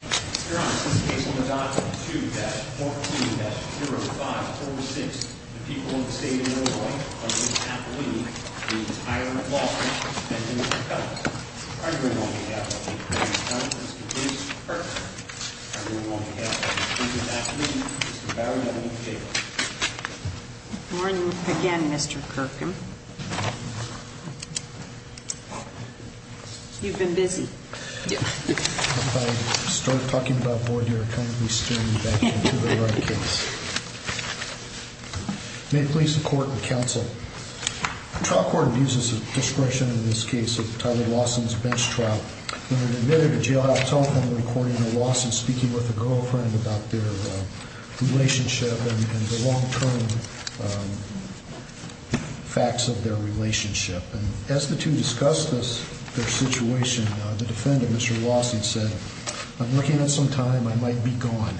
2-14-0546. The people of the state of Illinois are going to have to leave the entire law firm and Mr. Perkins. Are you going to want to have Mr. Perkins, Mr. Davis, or Kirk? Are you going to want to have Mr. Napoli, Mr. Barry, or Mr. Davis? Good morning again, Mr. Kirk. You've been busy. If I start talking about Boyd, you're kind of going to be steering me back into the right case. May it please the court and counsel, the trial court abuses the discretion in this case of Tyler Lawson's bench trial. When admitted to jail, I have a telephone recording of Lawson speaking with a girlfriend about their relationship and the long-term facts of their relationship. As the two discussed their situation, the defendant, Mr. Lawson, said, I'm looking at some time, I might be gone.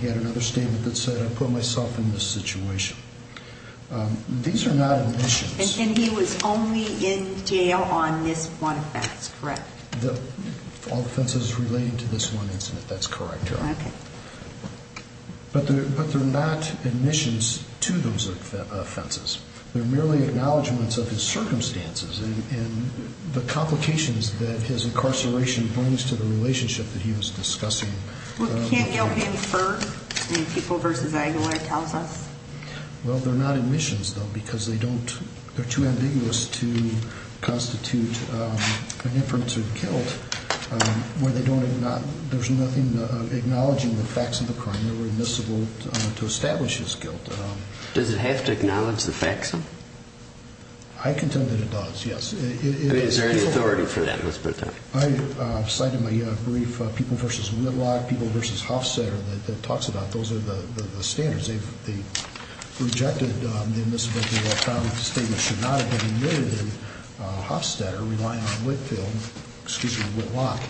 He had another statement that said, I put myself in this situation. These are not admissions. And he was only in jail on this one offense, correct? All offenses related to this one incident, that's correct, Your Honor. But they're not admissions to those offenses. They're merely acknowledgments of his circumstances and the complications that his incarceration brings to the relationship that he was discussing. Well, can't jail be inferred in People v. Aguilar, it tells us? Well, they're not admissions, though, because they're too ambiguous to constitute an inference of guilt where there's nothing acknowledging the facts of the crime. They're remissible to establish his guilt. Does it have to acknowledge the facts? I contend that it does, yes. Is there an authority for that, Mr. Tyler? I cited my brief, People v. Whitlock, People v. Hofstadter, that talks about those are the standards. They rejected the admissibility of the statement should not have been admitted in Hofstadter relying on Whitfield, excuse me, Whitlock,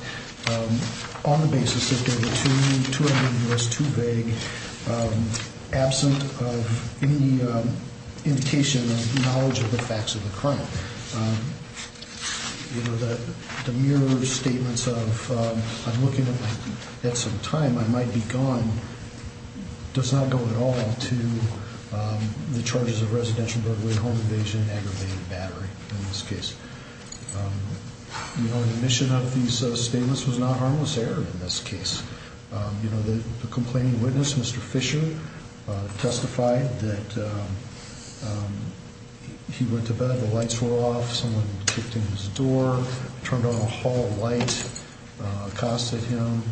on the basis that they were too ambiguous, too vague, absent of any indication or knowledge of the facts of the crime. You know, the mere statements of, I'm looking at some time, I might be gone, does not go at all to the charges of residential burglary, home invasion, aggravated battery in this case. You know, the omission of these statements was not harmless error in this case. You know, the complaining witness, Mr. Fisher, testified that he went to bed, the lights were off, someone kicked in his door, turned on a hall light, accosted him.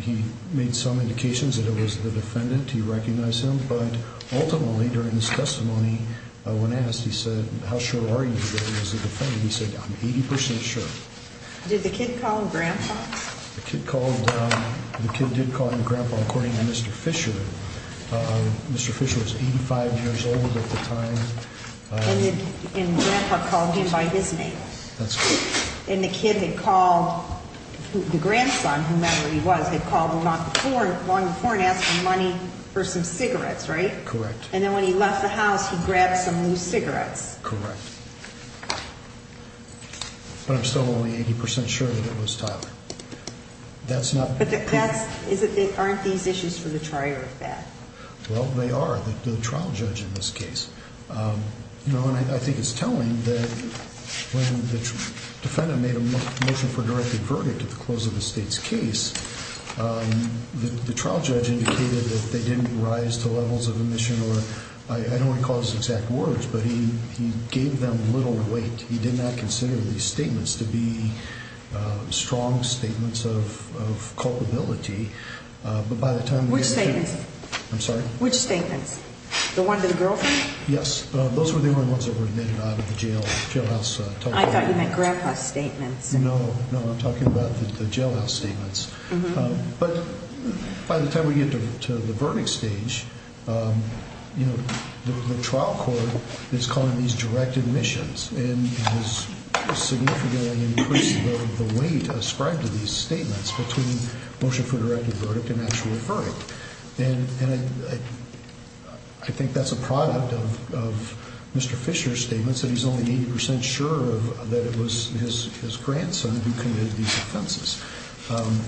He made some indications that it was the defendant, he recognized him, but ultimately, during his testimony, when asked, he said, how sure are you that it was the defendant? He said, I'm 80% sure. Did the kid call Grandpa? The kid called, the kid did call him Grandpa, according to Mr. Fisher. Mr. Fisher was 85 years old at the time. And Grandpa called him by his name. That's correct. And the kid had called, the grandson, whomever he was, had called long before and asked for money for some cigarettes, right? Correct. And then when he left the house, he grabbed some loose cigarettes. Correct. But I'm still only 80% sure that it was Tyler. But that's, aren't these issues for the trier of that? Well, they are, the trial judge in this case. You know, and I think it's telling that when the defendant made a motion for directed verdict at the close of the state's case, the trial judge indicated that they didn't rise to levels of omission or, I don't recall his exact words, but he gave them little weight. He did not consider these statements to be strong statements of culpability. But by the time we got to the... Which statements? I'm sorry? Which statements? The one to the girlfriend? Those were the only ones that were admitted out of the jail, jailhouse. I thought you meant Grandpa's statements. No, no, I'm talking about the jailhouse statements. But by the time we get to the verdict stage, you know, the trial court is calling these directed missions and has significantly increased the weight ascribed to these statements between motion for directed verdict and actual verdict. And I think that's a product of Mr. Fisher's statements that he's only 80% sure that it was his grandson who committed these offenses.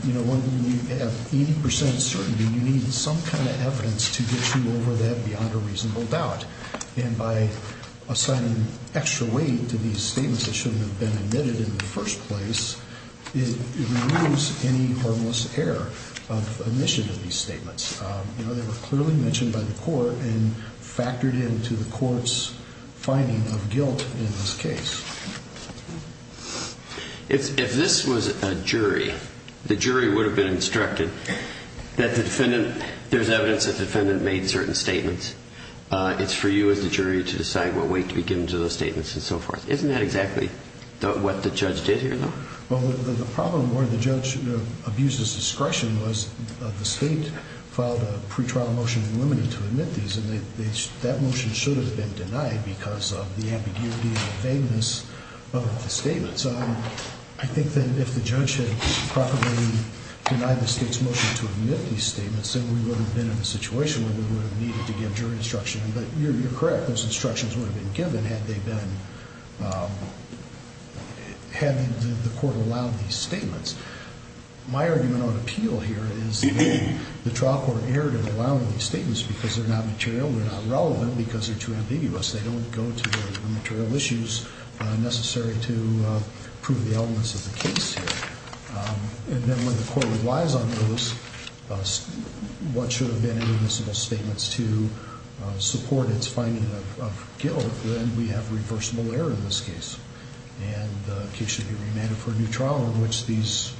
You know, when you have 80% certainty, you need some kind of evidence to get you over that beyond a reasonable doubt. And by assigning extra weight to these statements that shouldn't have been admitted in the first place, it removes any harmless error of omission of these statements. You know, they were clearly mentioned by the court and factored into the court's finding of guilt in this case. If this was a jury, the jury would have been instructed that the defendant, there's evidence that the defendant made certain statements. It's for you as the jury to decide what weight to be given to those statements and so forth. Isn't that exactly what the judge did here, though? Well, the problem where the judge abused his discretion was the state filed a pre-trial motion in limine to admit these. And that motion should have been denied because of the ambiguity and the vagueness of the statements. I think that if the judge had properly denied the state's motion to admit these statements, then we would have been in a situation where we would have needed to give jury instruction. But you're correct. Those instructions would have been given had they been, had the court allowed these statements. My argument on appeal here is the trial court erred in allowing these statements because they're not material, they're not relevant because they're too ambiguous. They don't go to the material issues necessary to prove the elements of the case here. And then when the court relies on those, what should have been inadmissible statements to support its finding of guilt, then we have reversible error in this case. And the case should be remanded for a new trial in which these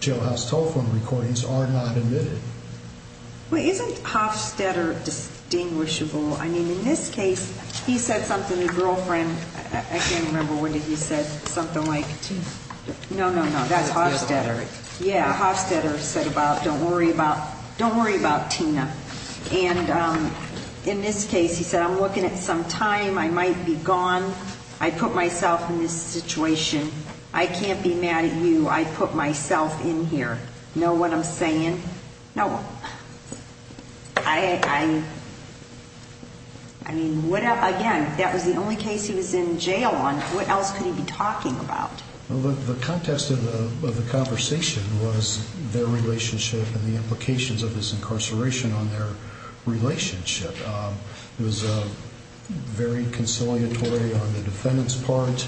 jailhouse telephone recordings are not admitted. Well, isn't Hofstetter distinguishable? I mean, in this case, he said something to girlfriend. I can't remember what he said. Something like, no, no, no, that's Hofstetter. Yeah, Hofstetter said about don't worry about, don't worry about Tina. And in this case, he said, I'm looking at some time. I might be gone. I put myself in this situation. I can't be mad at you. I put myself in here. Know what I'm saying? No. I mean, again, that was the only case he was in jail on. What else could he be talking about? The context of the conversation was their relationship and the implications of this incarceration on their relationship. It was very conciliatory on the defendant's part.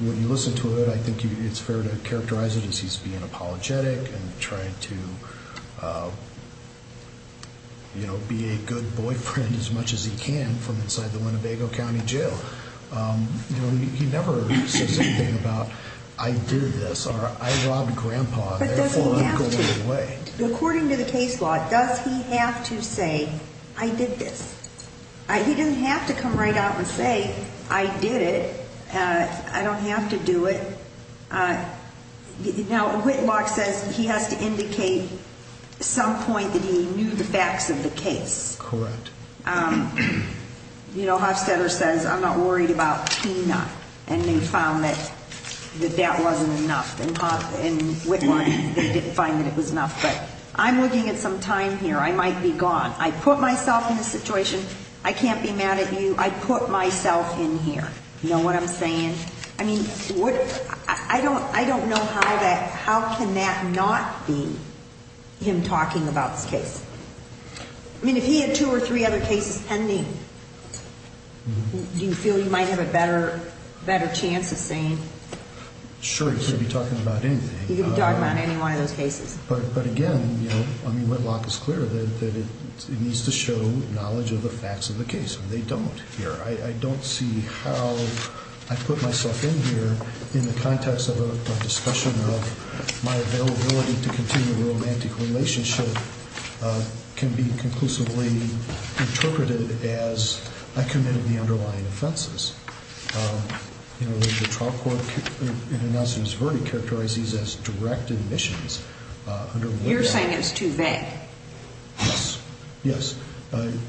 When you listen to it, I think it's fair to characterize it as he's being apologetic and trying to, you know, be a good boyfriend as much as he can from inside the Winnebago County Jail. You know, he never says anything about I did this or I robbed grandpa, therefore I'm going away. According to the case law, does he have to say I did this? He didn't have to come right out and say I did it. I don't have to do it. Now, Whitlock says he has to indicate some point that he knew the facts of the case. Correct. You know, Hofstetter says I'm not worried about Tina, and they found that that wasn't enough. And Whitlock, they didn't find that it was enough. But I'm looking at some time here. I might be gone. I put myself in this situation. I can't be mad at you. I put myself in here. You know what I'm saying? I mean, I don't know how that, how can that not be him talking about this case? I mean, if he had two or three other cases pending, do you feel you might have a better chance of saying? Sure, he could be talking about anything. He could be talking about any one of those cases. But, again, you know, I mean, Whitlock is clear that it needs to show knowledge of the facts of the case, and they don't here. I don't see how I put myself in here in the context of a discussion of my availability to continue a romantic relationship can be conclusively interpreted as I committed the underlying offenses. You know, the trial court in announcing his verdict characterized these as direct admissions. You're saying it's too vague. Yes. Yes. And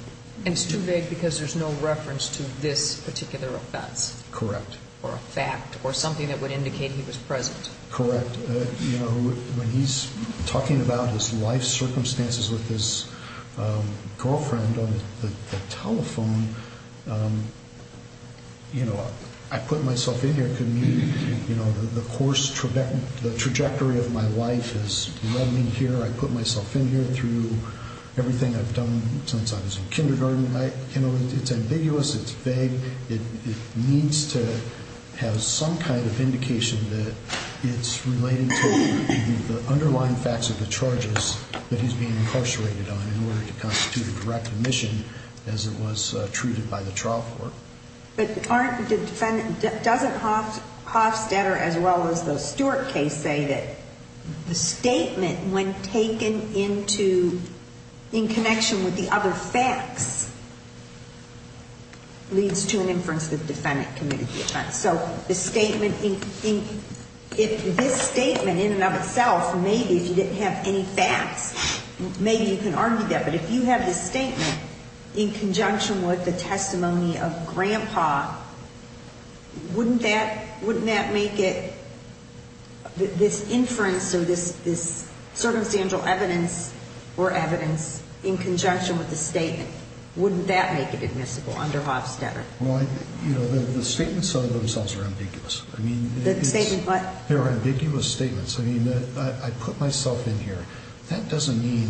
it's too vague because there's no reference to this particular offense. Correct. Or a fact or something that would indicate he was present. Correct. When he's talking about his life circumstances with his girlfriend on the telephone, you know, I put myself in here because, you know, the course, the trajectory of my life has led me here. I put myself in here through everything I've done since I was in kindergarten. You know, it's ambiguous. It's vague. It needs to have some kind of indication that it's related to the underlying facts of the charges that he's being incarcerated on in order to constitute a direct admission as it was treated by the trial court. But aren't the defendant, doesn't Hofstadter as well as the Stewart case say that the statement when taken into, in connection with the other facts, leads to an inference that the defendant committed the offense? So the statement, if this statement in and of itself, maybe if you didn't have any facts, maybe you can argue that. But if you have this statement in conjunction with the testimony of Grandpa, wouldn't that make it, this inference or this circumstantial evidence or evidence in conjunction with the statement, wouldn't that make it admissible under Hofstadter? Well, you know, the statements of themselves are ambiguous. I mean, they're ambiguous statements. I mean, I put myself in here. That doesn't mean,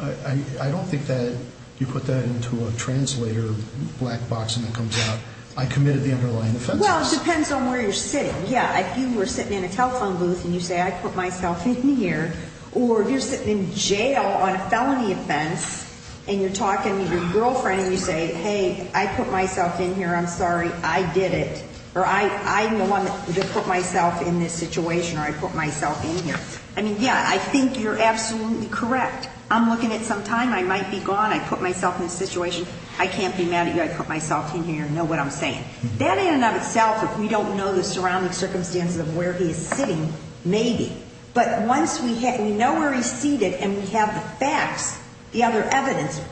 I don't think that you put that into a translator black box and it comes out, I committed the underlying offenses. Well, it depends on where you're sitting. Yeah, if you were sitting in a telephone booth and you say, I put myself in here, or you're sitting in jail on a felony offense and you're talking to your girlfriend and you say, hey, I put myself in here, I'm sorry, I did it. Or I'm the one that put myself in this situation or I put myself in here. I mean, yeah, I think you're absolutely correct. I'm looking at some time. I might be gone. I put myself in this situation. I can't be mad at you. I put myself in here and know what I'm saying. That in and of itself, if we don't know the surrounding circumstances of where he is sitting, maybe. But once we know where he's seated and we have the facts, the other evidence,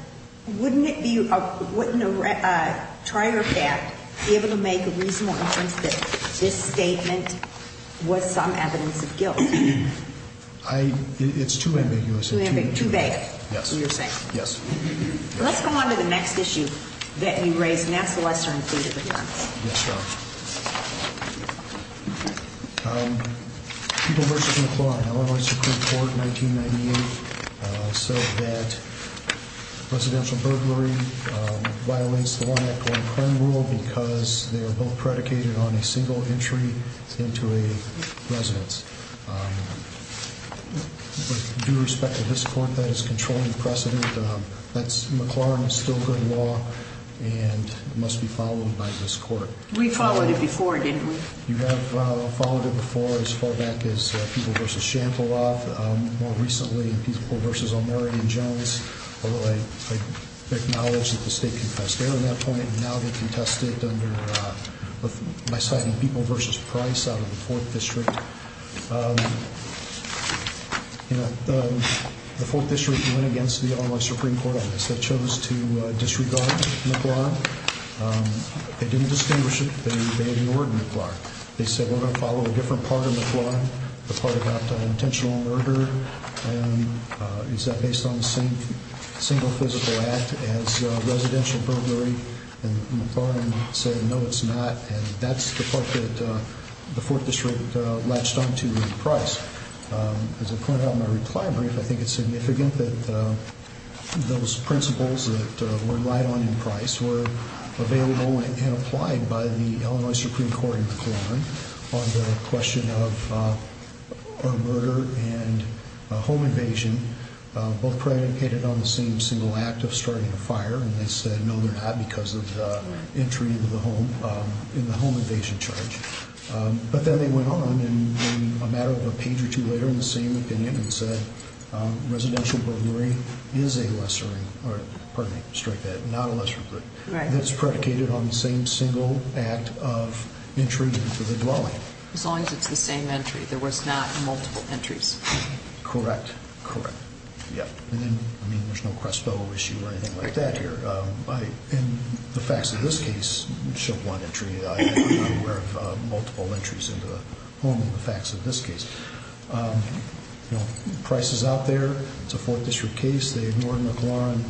wouldn't a trier of that be able to make a reasonable inference that this statement was some evidence of guilt? It's too ambiguous. Too vague. Yes. Yes. Let's go on to the next issue that you raised. And that's the lesser included returns. Yes, ma'am. People v. McClaughan, Illinois Supreme Court, 1998, said that residential burglary violates the one act one crime rule because they are both predicated on a single entry into a residence. With due respect to this court, that is controlling precedent. McClaughan is still good law and must be followed by this court. We followed it before, didn't we? You have followed it before as far back as People v. Shanteloff. More recently, People v. O'Mary and Jones. Although I acknowledge that the state confessed there at that point. Now they're contested by citing People v. Price out of the 4th District. The 4th District went against the Illinois Supreme Court on this. They chose to disregard McClaughan. They didn't distinguish it. They ignored McClaughan. They said we're going to follow a different part of McClaughan. The part about intentional murder. Is that based on the same single physical act as residential burglary? McClaughan said no, it's not. That's the part that the 4th District latched onto in Price. As I pointed out in my reply brief, I think it's significant that those principles that were relied on in Price were available and applied by the Illinois Supreme Court in McClaughan. On the question of murder and home invasion. Both predicated on the same single act of starting a fire. And they said no they're not because of the entry into the home. In the home invasion charge. But then they went on in a matter of a page or two later in the same opinion and said residential burglary is a lesser, pardon me, strike that, not a lesser crime. That's predicated on the same single act of entry into the dwelling. As long as it's the same entry. There was not multiple entries. Correct. Correct. Yep. And then, I mean, there's no Crespo issue or anything like that here. In the facts of this case, we showed one entry. I'm not aware of multiple entries into the home in the facts of this case. You know, Price is out there. It's a 4th District case. They ignored McClaughan.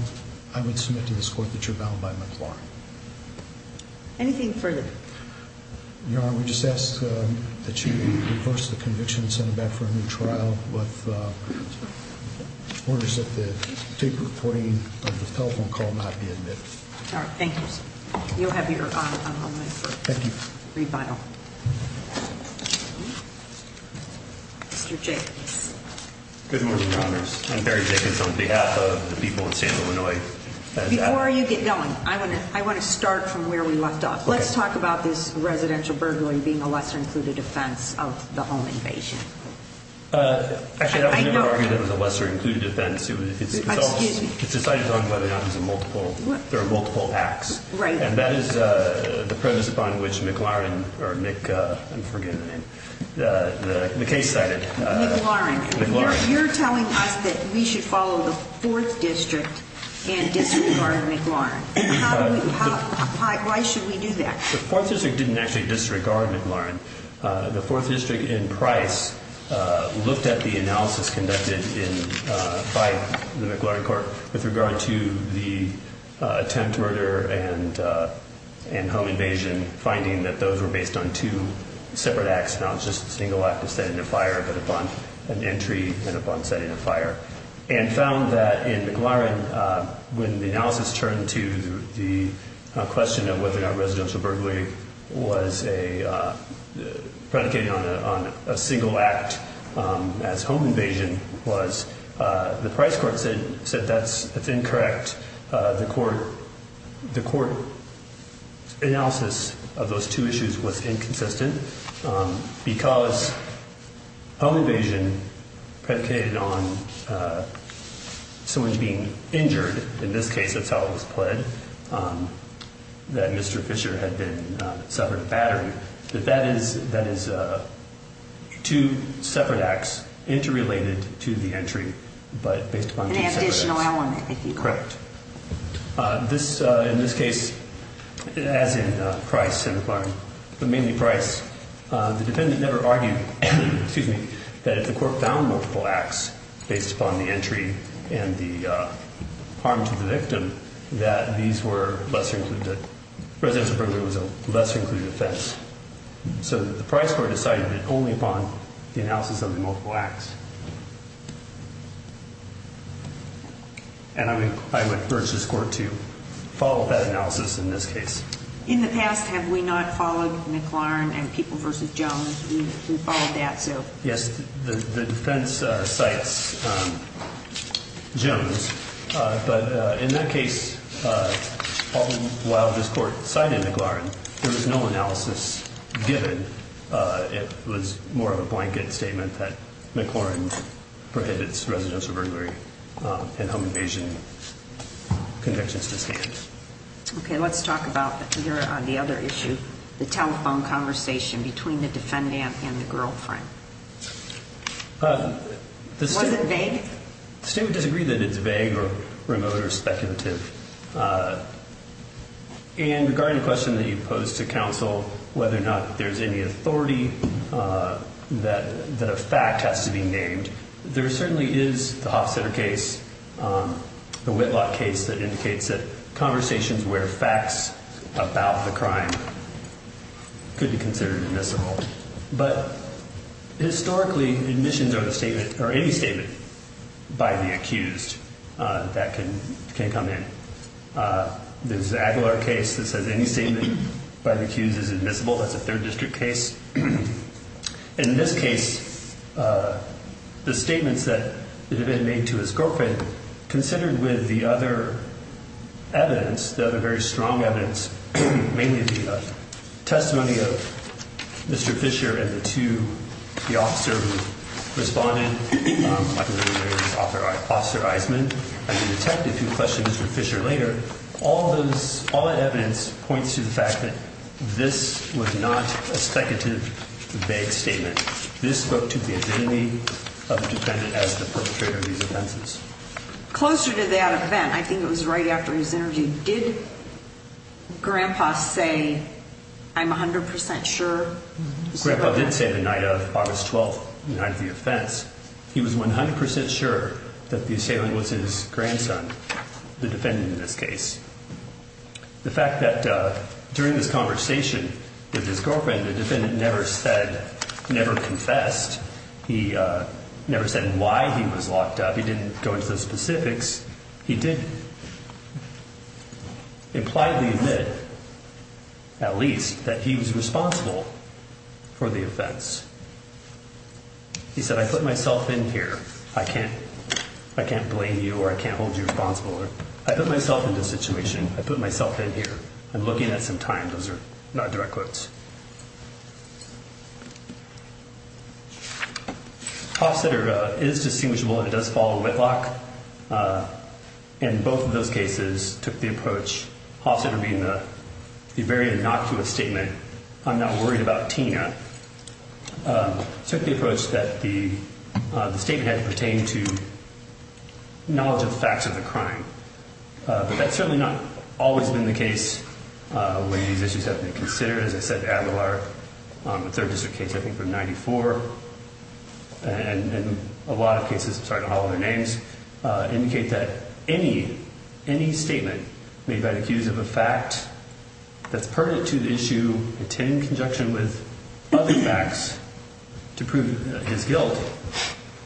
I would submit to this court that you're bound by McClaughan. Anything further? Your Honor, we just ask that you reverse the conviction and send it back for a new trial with orders that the tape recording of the telephone call not be admitted. All right. Thank you, sir. You'll have your honor on hold. Thank you. Read by all. Mr. Jacobs. Good morning, Congress. I'm Barry Jacobs on behalf of the people of Santa Ana. Before you get going, I want to start from where we left off. Let's talk about this residential burglary being a lesser-included offense of the home invasion. Actually, I would never argue that it was a lesser-included offense. It's decided on whether or not there are multiple acts. Right. And that is the premise upon which McLaurin or Mick, I'm forgetting the name, the case cited. McLaurin. McLaurin. You're telling us that we should follow the Fourth District and disregard McLaurin. Why should we do that? The Fourth District didn't actually disregard McLaurin. The Fourth District in Price looked at the analysis conducted by the McLaurin court with regard to the attempt murder and home invasion, finding that those were based on two separate acts, not just a single act of setting a fire, but upon an entry and upon setting a fire, and found that in McLaurin, when the analysis turned to the question of whether or not residential burglary was predicated on a single act as home invasion, the Price court said that's incorrect. The court analysis of those two issues was inconsistent because home invasion predicated on someone being injured. In this case, that's how it was pled, that Mr. Fisher had suffered a battery. That is two separate acts interrelated to the entry, but based upon two separate acts. An additional element, if you call it that. Correct. In this case, as in Price and McLaurin, but mainly Price, the defendant never argued that if the court found multiple acts based upon the entry and the harm to the victim, that residential burglary was a lesser-included offense. So the Price court decided it only upon the analysis of the multiple acts. And I would urge this court to follow that analysis in this case. In the past, have we not followed McLaurin and People v. Jones? We've followed that, so. Yes, the defense cites Jones, but in that case, while this court cited McLaurin, there was no analysis given. It was more of a blanket statement that McLaurin prohibits residential burglary and home invasion convictions to stand. Okay, let's talk about the other issue, the telephone conversation between the defendant and the girlfriend. Was it vague? The state would disagree that it's vague or remote or speculative. And regarding the question that you posed to counsel, whether or not there's any authority that a fact has to be named, there certainly is the Hofstetter case, the Whitlock case, that indicates that conversations where facts about the crime could be considered admissible. But historically, admissions are any statement by the accused that can come in. There's the Aguilar case that says any statement by the accused is admissible. That's a third district case. And in this case, the statements that the defendant made to his girlfriend, considered with the other evidence, the other very strong evidence, mainly the testimony of Mr. Fisher and the two, the officer who responded, Officer Eisman, and the detective who questioned Mr. Fisher later, all that evidence points to the fact that this was not a speculative vague statement. This spoke to the identity of the defendant as the perpetrator of these offenses. Closer to that event, I think it was right after his interview, did Grandpa say, I'm 100% sure? Grandpa did say the night of August 12th, the night of the offense, he was 100% sure that the assailant was his grandson, the defendant in this case. The fact that during this conversation with his girlfriend, the defendant never confessed. He never said why he was locked up. He didn't go into the specifics. He did impliedly admit, at least, that he was responsible for the offense. He said, I put myself in here. I can't blame you or I can't hold you responsible. I put myself in this situation. I put myself in here. I'm looking at some time. Those are not direct quotes. Hofstetter is distinguishable and does follow Whitlock. In both of those cases, took the approach, Hofstetter being the very innocuous statement, I'm not worried about Tina, took the approach that the statement had to pertain to knowledge of the facts of the crime. But that's certainly not always been the case when these issues have been considered. As I said, Adler, the third district case, I think from 94, and a lot of cases, I'm sorry to holler their names, indicate that any statement made by the accused of a fact that's pertinent to the issue in conjunction with other facts to prove his guilt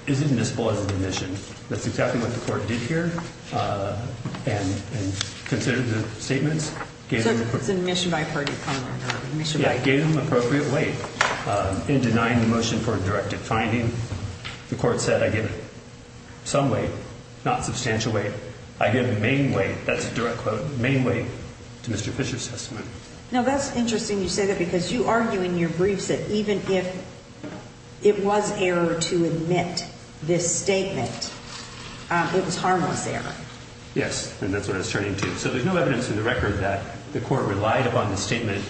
is admissible as an admission. That's exactly what the court did here and considered the statements. So it's an admission by a purdue. Yeah, it gave him appropriate weight in denying the motion for a directed finding. The court said, I give some weight, not substantial weight. I give main weight, that's a direct quote, main weight to Mr. Fisher's testimony. Now, that's interesting you say that because you argue in your briefs that even if it was error to admit this statement, it was harmless error. Yes, and that's what it's turning to. So there's no evidence in the record that the court relied upon the statement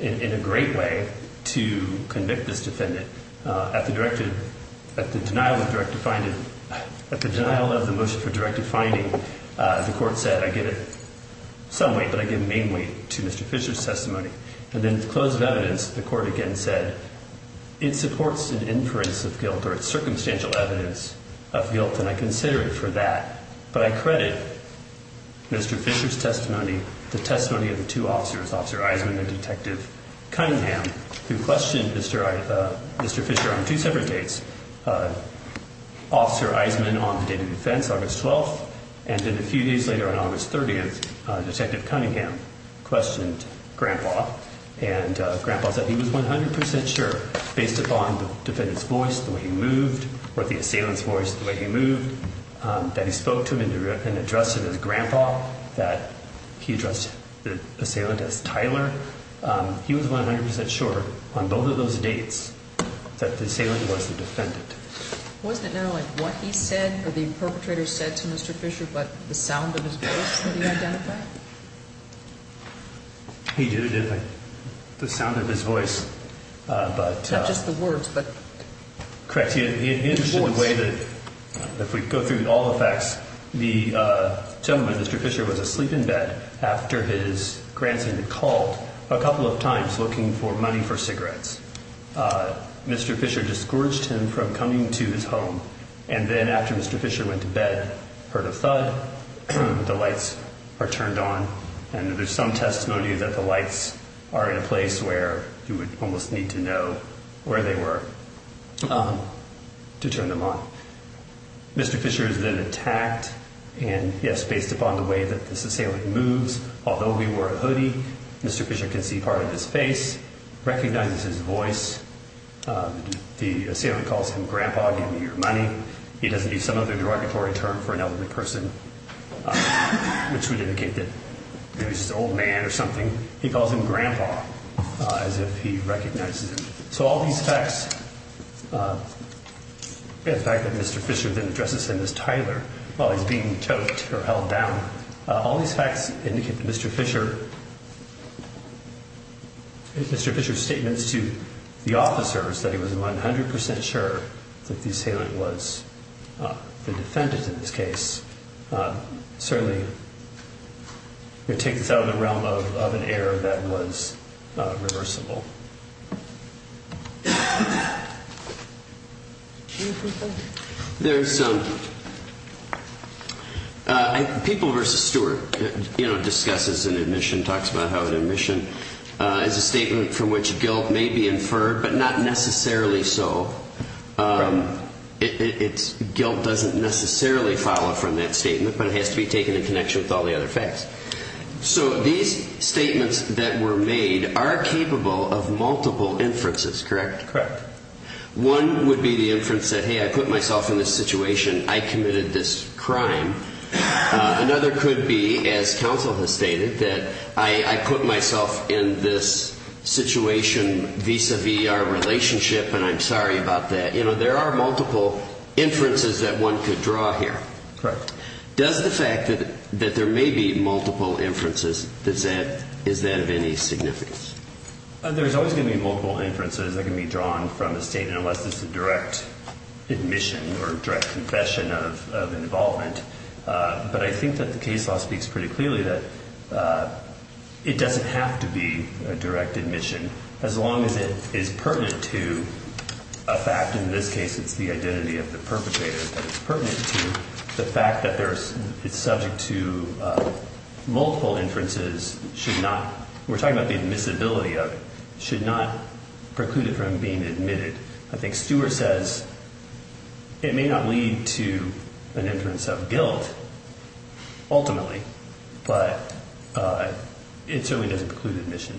in a great way to convict this defendant. At the denial of the motion for directed finding, the court said, I give it some weight, but I give main weight to Mr. Fisher's testimony. And then in the close of evidence, the court again said, it supports an inference of guilt or its circumstantial evidence of guilt, and I consider it for that. But I credit Mr. Fisher's testimony, the testimony of the two officers, Officer Eisenman and Detective Cunningham, who questioned Mr. Fisher on two separate dates, Officer Eisenman on the day of defense, August 12th, and then a few days later on August 30th, Detective Cunningham questioned Grandpa. And Grandpa said he was 100% sure, based upon the defendant's voice, the way he moved, or the assailant's voice, the way he moved, that he spoke to him and addressed him as Grandpa, that he addressed the assailant as Tyler. He was 100% sure on both of those dates that the assailant was the defendant. Wasn't it not only what he said or the perpetrator said to Mr. Fisher, but the sound of his voice that he identified? He did identify the sound of his voice. Not just the words, but the voice. Correct. He understood the way that, if we go through all the facts, the gentleman, Mr. Fisher, was asleep in bed after his grandson had called a couple of times looking for money for cigarettes. Mr. Fisher discouraged him from coming to his home. And then after Mr. Fisher went to bed, heard a thud. The lights are turned on. And there's some testimony that the lights are in a place where you would almost need to know where they were to turn them on. Mr. Fisher has been attacked. And, yes, based upon the way that this assailant moves, although he wore a hoodie, Mr. Fisher can see part of his face, recognizes his voice. The assailant calls him Grandpa, give me your money. He doesn't use some other derogatory term for an elderly person, which would indicate that maybe he's just an old man or something. He calls him Grandpa, as if he recognizes him. So all these facts, and the fact that Mr. Fisher then addresses him as Tyler while he's being choked or held down, all these facts indicate that Mr. Fisher's statements to the officers, that he was 100 percent sure that the assailant was the defendant in this case, certainly would take this out of the realm of an error that was reversible. People v. Stewart discusses an admission, talks about how an admission is a statement from which guilt may be inferred, but not necessarily so. Guilt doesn't necessarily follow from that statement, but it has to be taken in connection with all the other facts. So these statements that were made are capable of multiple inferences, correct? Correct. One would be the inference that, hey, I put myself in this situation, I committed this crime. Another could be, as counsel has stated, that I put myself in this situation vis-a-vis our relationship, and I'm sorry about that. There are multiple inferences that one could draw here. Correct. Does the fact that there may be multiple inferences, is that of any significance? There's always going to be multiple inferences that can be drawn from a statement, unless it's a direct admission or direct confession of involvement. But I think that the case law speaks pretty clearly that it doesn't have to be a direct admission, as long as it is pertinent to a fact. In this case, it's the identity of the perpetrator that is pertinent to the fact that it's subject to multiple inferences. We're talking about the admissibility of it. It should not preclude it from being admitted. I think Stewart says it may not lead to an inference of guilt, ultimately, but it certainly doesn't preclude admission.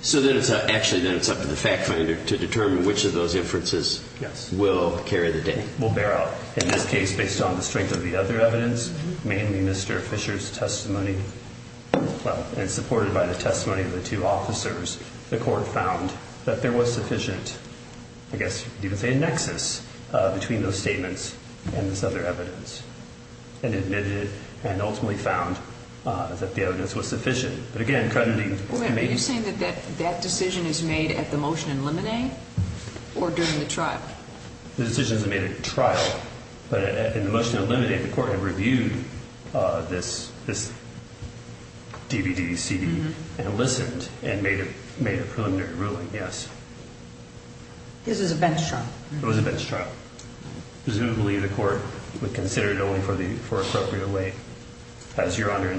So then it's actually up to the fact finder to determine which of those inferences will carry the day. In this case, based on the strength of the other evidence, mainly Mr. Fisher's testimony, and supported by the testimony of the two officers, the court found that there was sufficient, I guess you could say a nexus, between those statements and this other evidence, and admitted it, and ultimately found that the evidence was sufficient. But again, crediting- Wait, are you saying that that decision is made at the motion in limine, or during the trial? The decision is made at trial. But in the motion in limine, the court had reviewed this DVD, CD, and listened, and made a preliminary ruling, yes. This is a bench trial. It was a bench trial. Presumably the court would consider it only for appropriate way. As Your Honor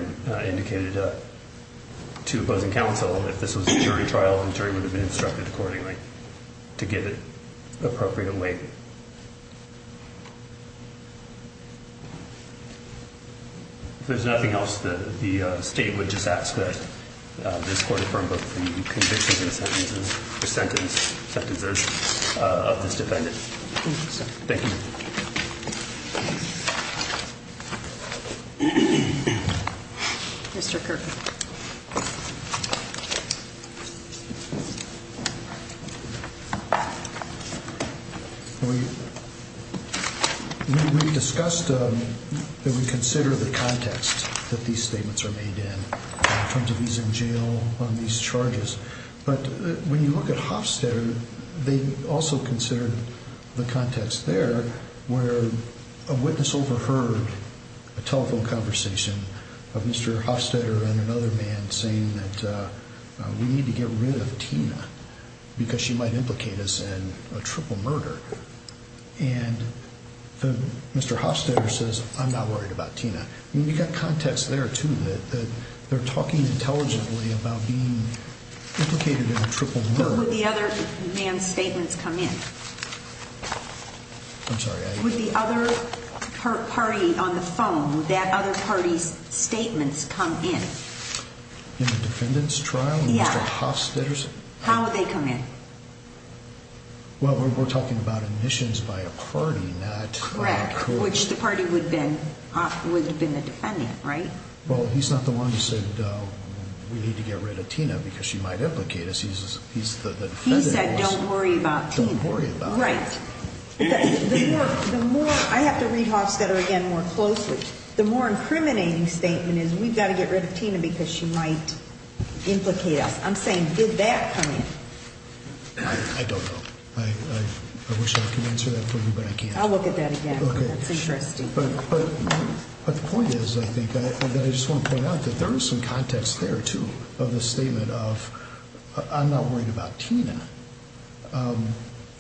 indicated to opposing counsel, if this was a jury trial, the jury would have been instructed accordingly to give it appropriate weight. If there's nothing else, the state would just ask that this court affirm both the convictions and sentences of this defendant. Thank you. Mr. Kirk? We discussed that we consider the context that these statements are made in, in terms of these in jail, on these charges. But when you look at Hofstetter, they also consider the context there, where a witness overheard a telephone conversation of Mr. Hofstetter and another man, saying that we need to get rid of Tina, because she might implicate us in a triple murder. And Mr. Hofstetter says, I'm not worried about Tina. I mean, you've got context there, too, that they're talking intelligently about being implicated in a triple murder. But would the other man's statements come in? I'm sorry, I... Would the other party on the phone, that other party's statements come in? In the defendant's trial? Yeah. And Mr. Hofstetter's? How would they come in? Well, we're talking about admissions by a party, not a court. Which the party would have been the defendant, right? Well, he's not the one who said, we need to get rid of Tina, because she might implicate us. He said, don't worry about Tina. Right. I have to read Hofstetter again more closely. The more incriminating statement is, we've got to get rid of Tina, because she might implicate us. I'm saying, did that come in? I don't know. I wish I could answer that for you, but I can't. I'll look at that again. Okay. That's interesting. But the point is, I think, that I just want to point out that there is some context there, too, of the statement of, I'm not worried about Tina.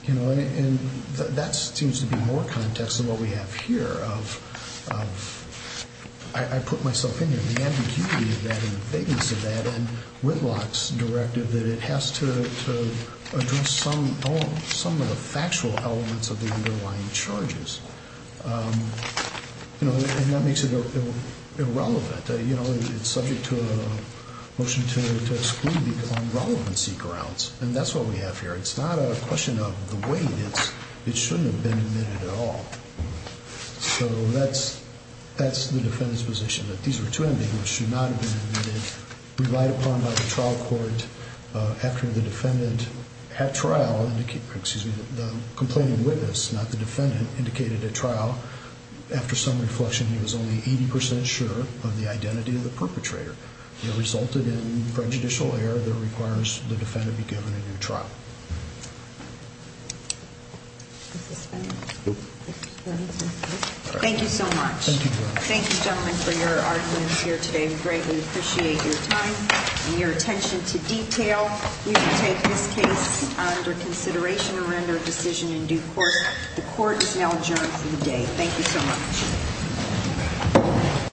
You know, and that seems to be more context than what we have here of... I put myself in here. The ambiguity of that and the vagueness of that and Whitlock's directive that it has to address some of the factual elements of the underlying charges. You know, and that makes it irrelevant. You know, it's subject to a motion to exclude on relevancy grounds. And that's what we have here. It's not a question of the weight. It shouldn't have been admitted at all. So, that's the defendant's position, that these were two individuals who should not have been admitted, relied upon by the trial court, after the defendant at trial... Excuse me, the complaining witness, not the defendant, indicated at trial, after some reflection, he was only 80% sure of the identity of the perpetrator. It resulted in prejudicial error that requires the defendant be given a new trial. Thank you so much. Thank you. Thank you, gentlemen, for your arguments here today. We greatly appreciate your time and your attention to detail. We will take this case under consideration and render a decision in due course. The court is now adjourned for the day. Thank you so much.